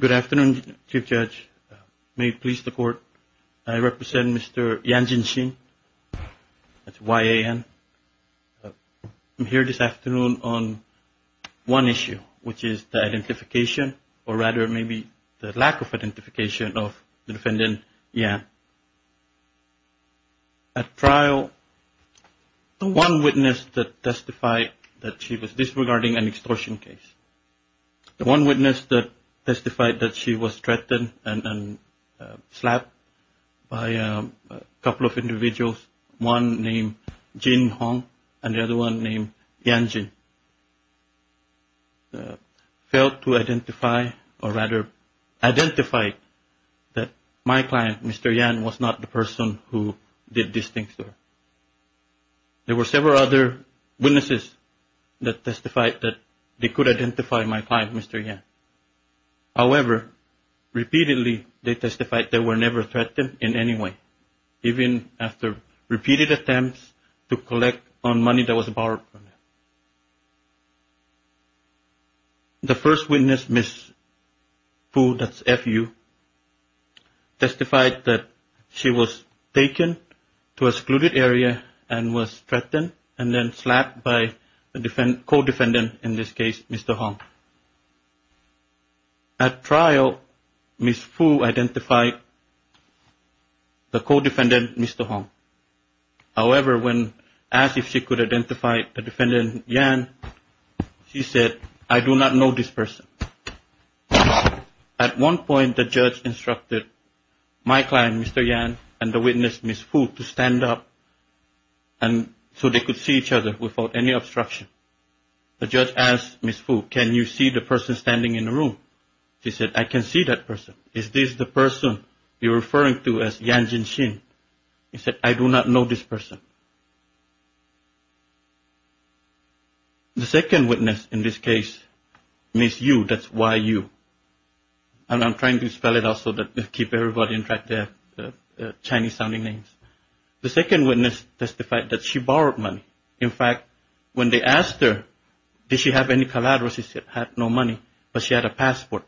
Good afternoon, Chief Judge. May it please the Court, I represent Mr. Yan Jin-shin, that's Y-A-N. I'm here this afternoon on one issue, which is the identification, or rather maybe the lack of identification of the defendant, Yan. At trial, the one witness that testified that she was disregarding an extortion case, the one witness that testified that she was threatened and slapped by a couple of individuals, one named Jin Hong and the other one named Yan Jin, failed to identify, or rather identified that my client, Mr. Yan, was not the person who did these things to her. There were several other witnesses that testified that they could identify my client, Mr. Yan. However, repeatedly they testified they were never threatened in any way, even after repeated attempts to collect on money that was borrowed from them. The first witness, Ms. Fu, that's F-U, testified that she was taken to a secluded area and was threatened and then slapped by a co-defendant, in this case, Mr. Hong. At trial, Ms. Fu identified the co-defendant, Mr. Hong. However, when asked if she could identify the defendant, Yan, she said, I do not know this person. At one point, the judge instructed my client, Mr. Yan, and the witness, Ms. Fu, to stand up so they could see each other without any obstruction. The judge asked Ms. Fu, can you see the person standing in the room? She said, I can see that person. Is this the person you're referring to as Yan Jinxin? He said, I do not know this person. The second witness, in this case, Ms. Yu, that's Y-U. And I'm trying to spell it out so that I keep everybody in track of the Chinese-sounding names. The second witness testified that she borrowed money. In fact, when they asked her, did she have any collateral, she said she had no money, but she had a passport.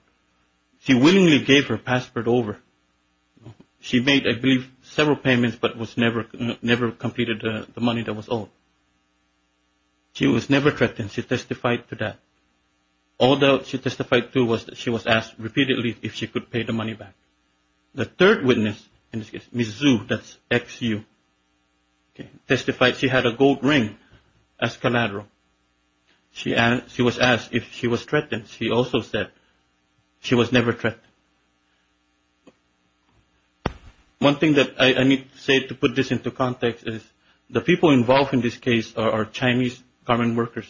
She willingly gave her passport over. She made, I believe, several payments but never completed the money that was owed. She was never threatened. She testified to that. All that she testified to was that she was asked repeatedly if she could pay the money back. The third witness, Ms. Xu, that's X-U, testified she had a gold ring as collateral. She was asked if she was threatened. She also said she was never threatened. One thing that I need to say to put this into context is the people involved in this case are Chinese government workers,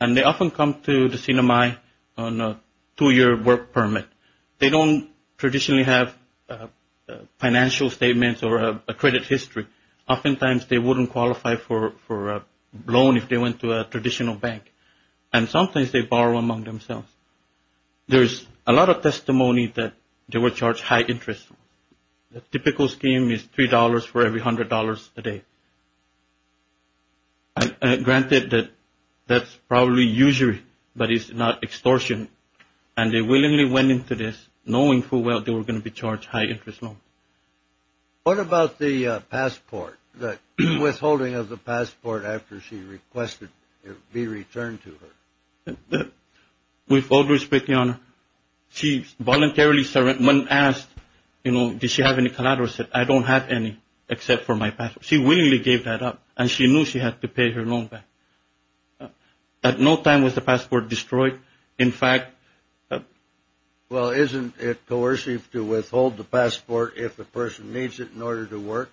and they often come to the CNMI on a two-year work permit. They don't traditionally have financial statements or a credit history. Oftentimes, they wouldn't qualify for a loan if they went to a traditional bank. And sometimes they borrow among themselves. There's a lot of testimony that they were charged high-interest loans. The typical scheme is $3 for every $100 a day. Granted, that's probably usury, but it's not extortion. And they willingly went into this knowing full well they were going to be charged high-interest loans. What about the passport, the withholding of the passport after she requested it be returned to her? With all due respect, Your Honor, she voluntarily surrendered. When asked, you know, did she have any collateral, she said, I don't have any except for my passport. She willingly gave that up, and she knew she had to pay her loan back. At no time was the passport destroyed. In fact… Well, isn't it coercive to withhold the passport if the person needs it in order to work?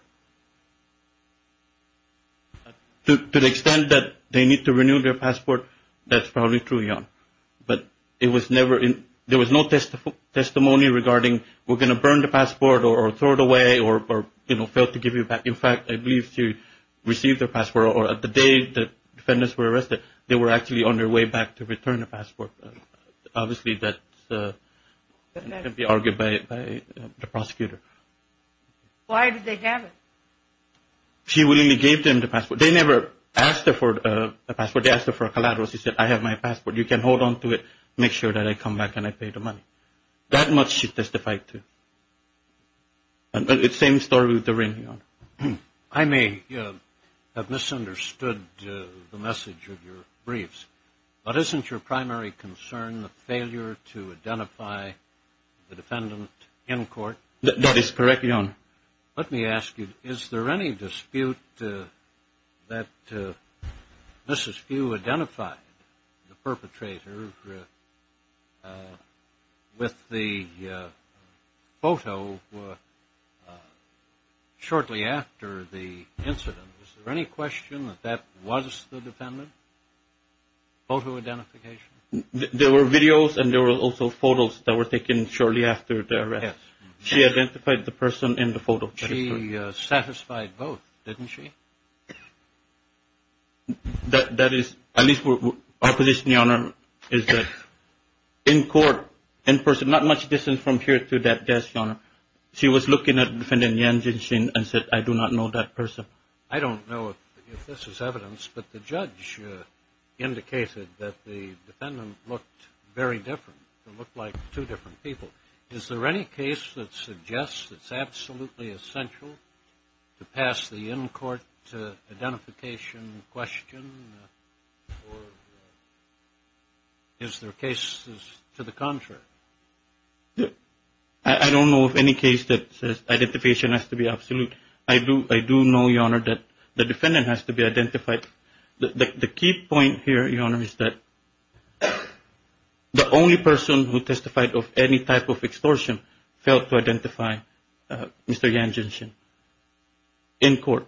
To the extent that they need to renew their passport, that's probably true, Your Honor. But it was never – there was no testimony regarding we're going to burn the passport or throw it away or, you know, fail to give it back. It can be argued by the prosecutor. Why did they have it? She willingly gave them the passport. They never asked her for the passport. They asked her for a collateral. She said, I have my passport. You can hold on to it. Make sure that I come back and I pay the money. That much she testified to. It's the same story with the renewal. I may have misunderstood the message of your briefs, but isn't your primary concern the failure to identify the defendant in court? That is correct, Your Honor. Let me ask you, is there any dispute that Mrs. Pugh identified the perpetrator with the photo shortly after the incident? Is there any question that that was the defendant's photo identification? There were videos and there were also photos that were taken shortly after the arrest. Yes. She identified the person in the photo. She satisfied both, didn't she? That is – at least our position, Your Honor, is that in court, in person, not much distance from here to that desk, Your Honor, she was looking at Defendant Yan Junshin and said, I do not know that person. I don't know if this is evidence, but the judge indicated that the defendant looked very different. It looked like two different people. Is there any case that suggests it's absolutely essential to pass the in-court identification question? Or is there cases to the contrary? I don't know of any case that says identification has to be absolute. I do know, Your Honor, that the defendant has to be identified. The key point here, Your Honor, is that the only person who testified of any type of extortion failed to identify Mr. Yan Junshin in court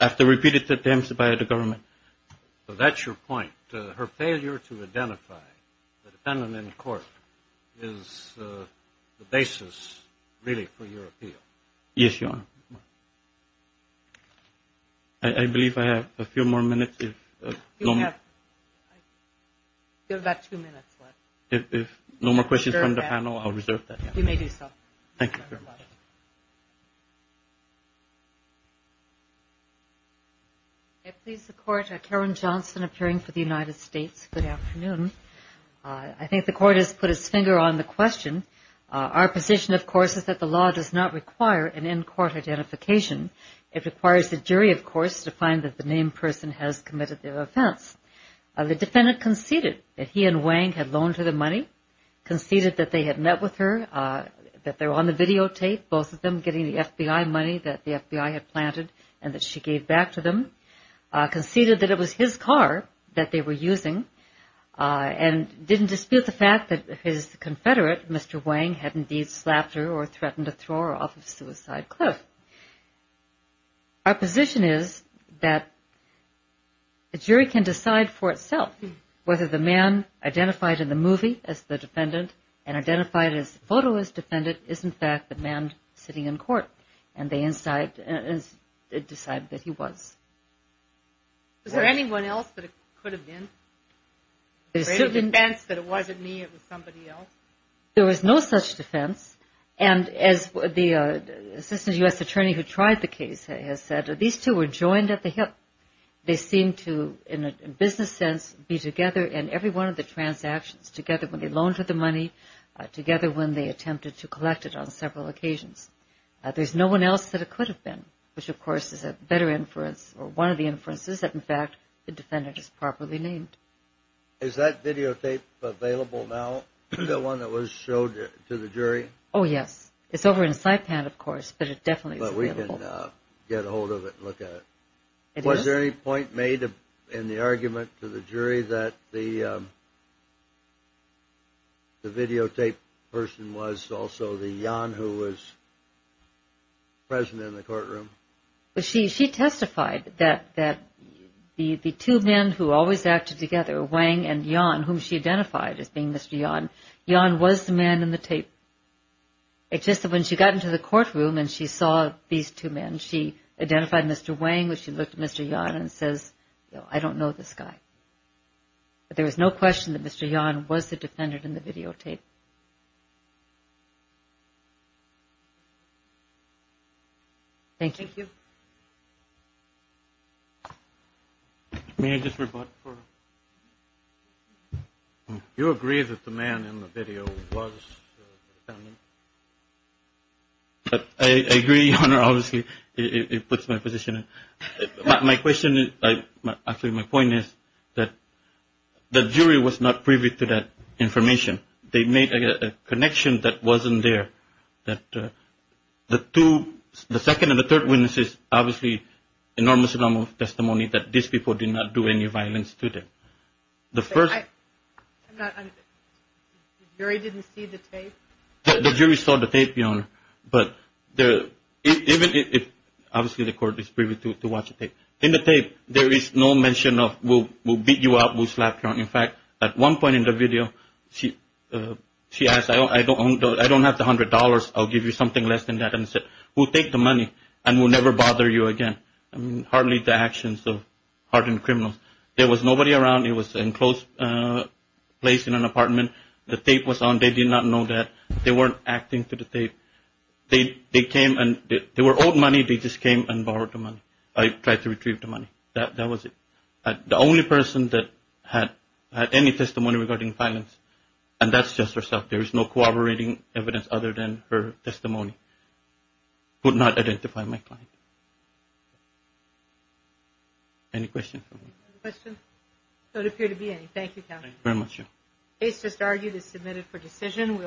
after repeated attempts by the government. That's your point. Her failure to identify the defendant in court is the basis, really, for your appeal. Yes, Your Honor. I believe I have a few more minutes. You have about two minutes left. If no more questions from the panel, I'll reserve that. You may do so. Thank you very much. I please the Court. Karen Johnson appearing for the United States. Good afternoon. I think the Court has put its finger on the question. Our position, of course, is that the law does not require an in-court identification. It requires the jury, of course, to find that the named person has committed the offense. The defendant conceded that he and Wang had loaned her the money, conceded that they had met with her, that they were on the videotape, both of them, getting the FBI money that the FBI had planted and that she gave back to them, conceded that it was his car that they were using, and didn't dispute the fact that his confederate, Mr. Wang, had indeed slapped her or threatened to throw her off a suicide cliff. Our position is that the jury can decide for itself whether the man identified in the movie as the defendant and identified in his photo as the defendant is, in fact, the man sitting in court, and they decide that he was. Is there anyone else that it could have been? There's no defense that it wasn't me, it was somebody else? There was no such defense, and as the Assistant U.S. Attorney who tried the case has said, these two were joined at the hip. They seemed to, in a business sense, be together in every one of the transactions, together when they loaned her the money, together when they attempted to collect it on several occasions. There's no one else that it could have been, which, of course, is a better inference, or one of the inferences that, in fact, the defendant is properly named. Is that videotape available now, the one that was showed to the jury? Oh, yes. It's over in Saipan, of course, but it definitely is available. But we can get a hold of it and look at it. Was there any point made in the argument to the jury that the videotape person was also the Yan who was present in the courtroom? She testified that the two men who always acted together, Wang and Yan, whom she identified as being Mr. Yan, Yan was the man in the tape. It's just that when she got into the courtroom and she saw these two men, she identified Mr. Wang, but she looked at Mr. Yan and says, I don't know this guy. But there was no question that Mr. Yan was the defendant in the videotape. Thank you. Thank you. May I just rebut for a moment? Do you agree that the man in the video was the defendant? I agree, Your Honor, obviously. It puts my position in. My question is, actually, my point is that the jury was not privy to that information. They made a connection that wasn't there, that the two, the second and the third witnesses, obviously, enormous amount of testimony that these people did not do any violence to them. The first – The jury didn't see the tape? The jury saw the tape, Your Honor, but even if – obviously, the court is privy to watch the tape. In the tape, there is no mention of we'll beat you up, we'll slap you. In fact, at one point in the video, she asked, I don't have the $100. I'll give you something less than that. And she said, we'll take the money and we'll never bother you again. I mean, hardly the actions of hardened criminals. There was nobody around. It was an enclosed place in an apartment. The tape was on. They did not know that. They weren't acting to the tape. They came and they were owed money. They just came and borrowed the money. I tried to retrieve the money. That was it. The only person that had any testimony regarding violence, and that's just herself. There is no corroborating evidence other than her testimony, could not identify my client. Any questions? No questions? There don't appear to be any. Thank you, counsel. Thank you very much. The case just argued is submitted for decision.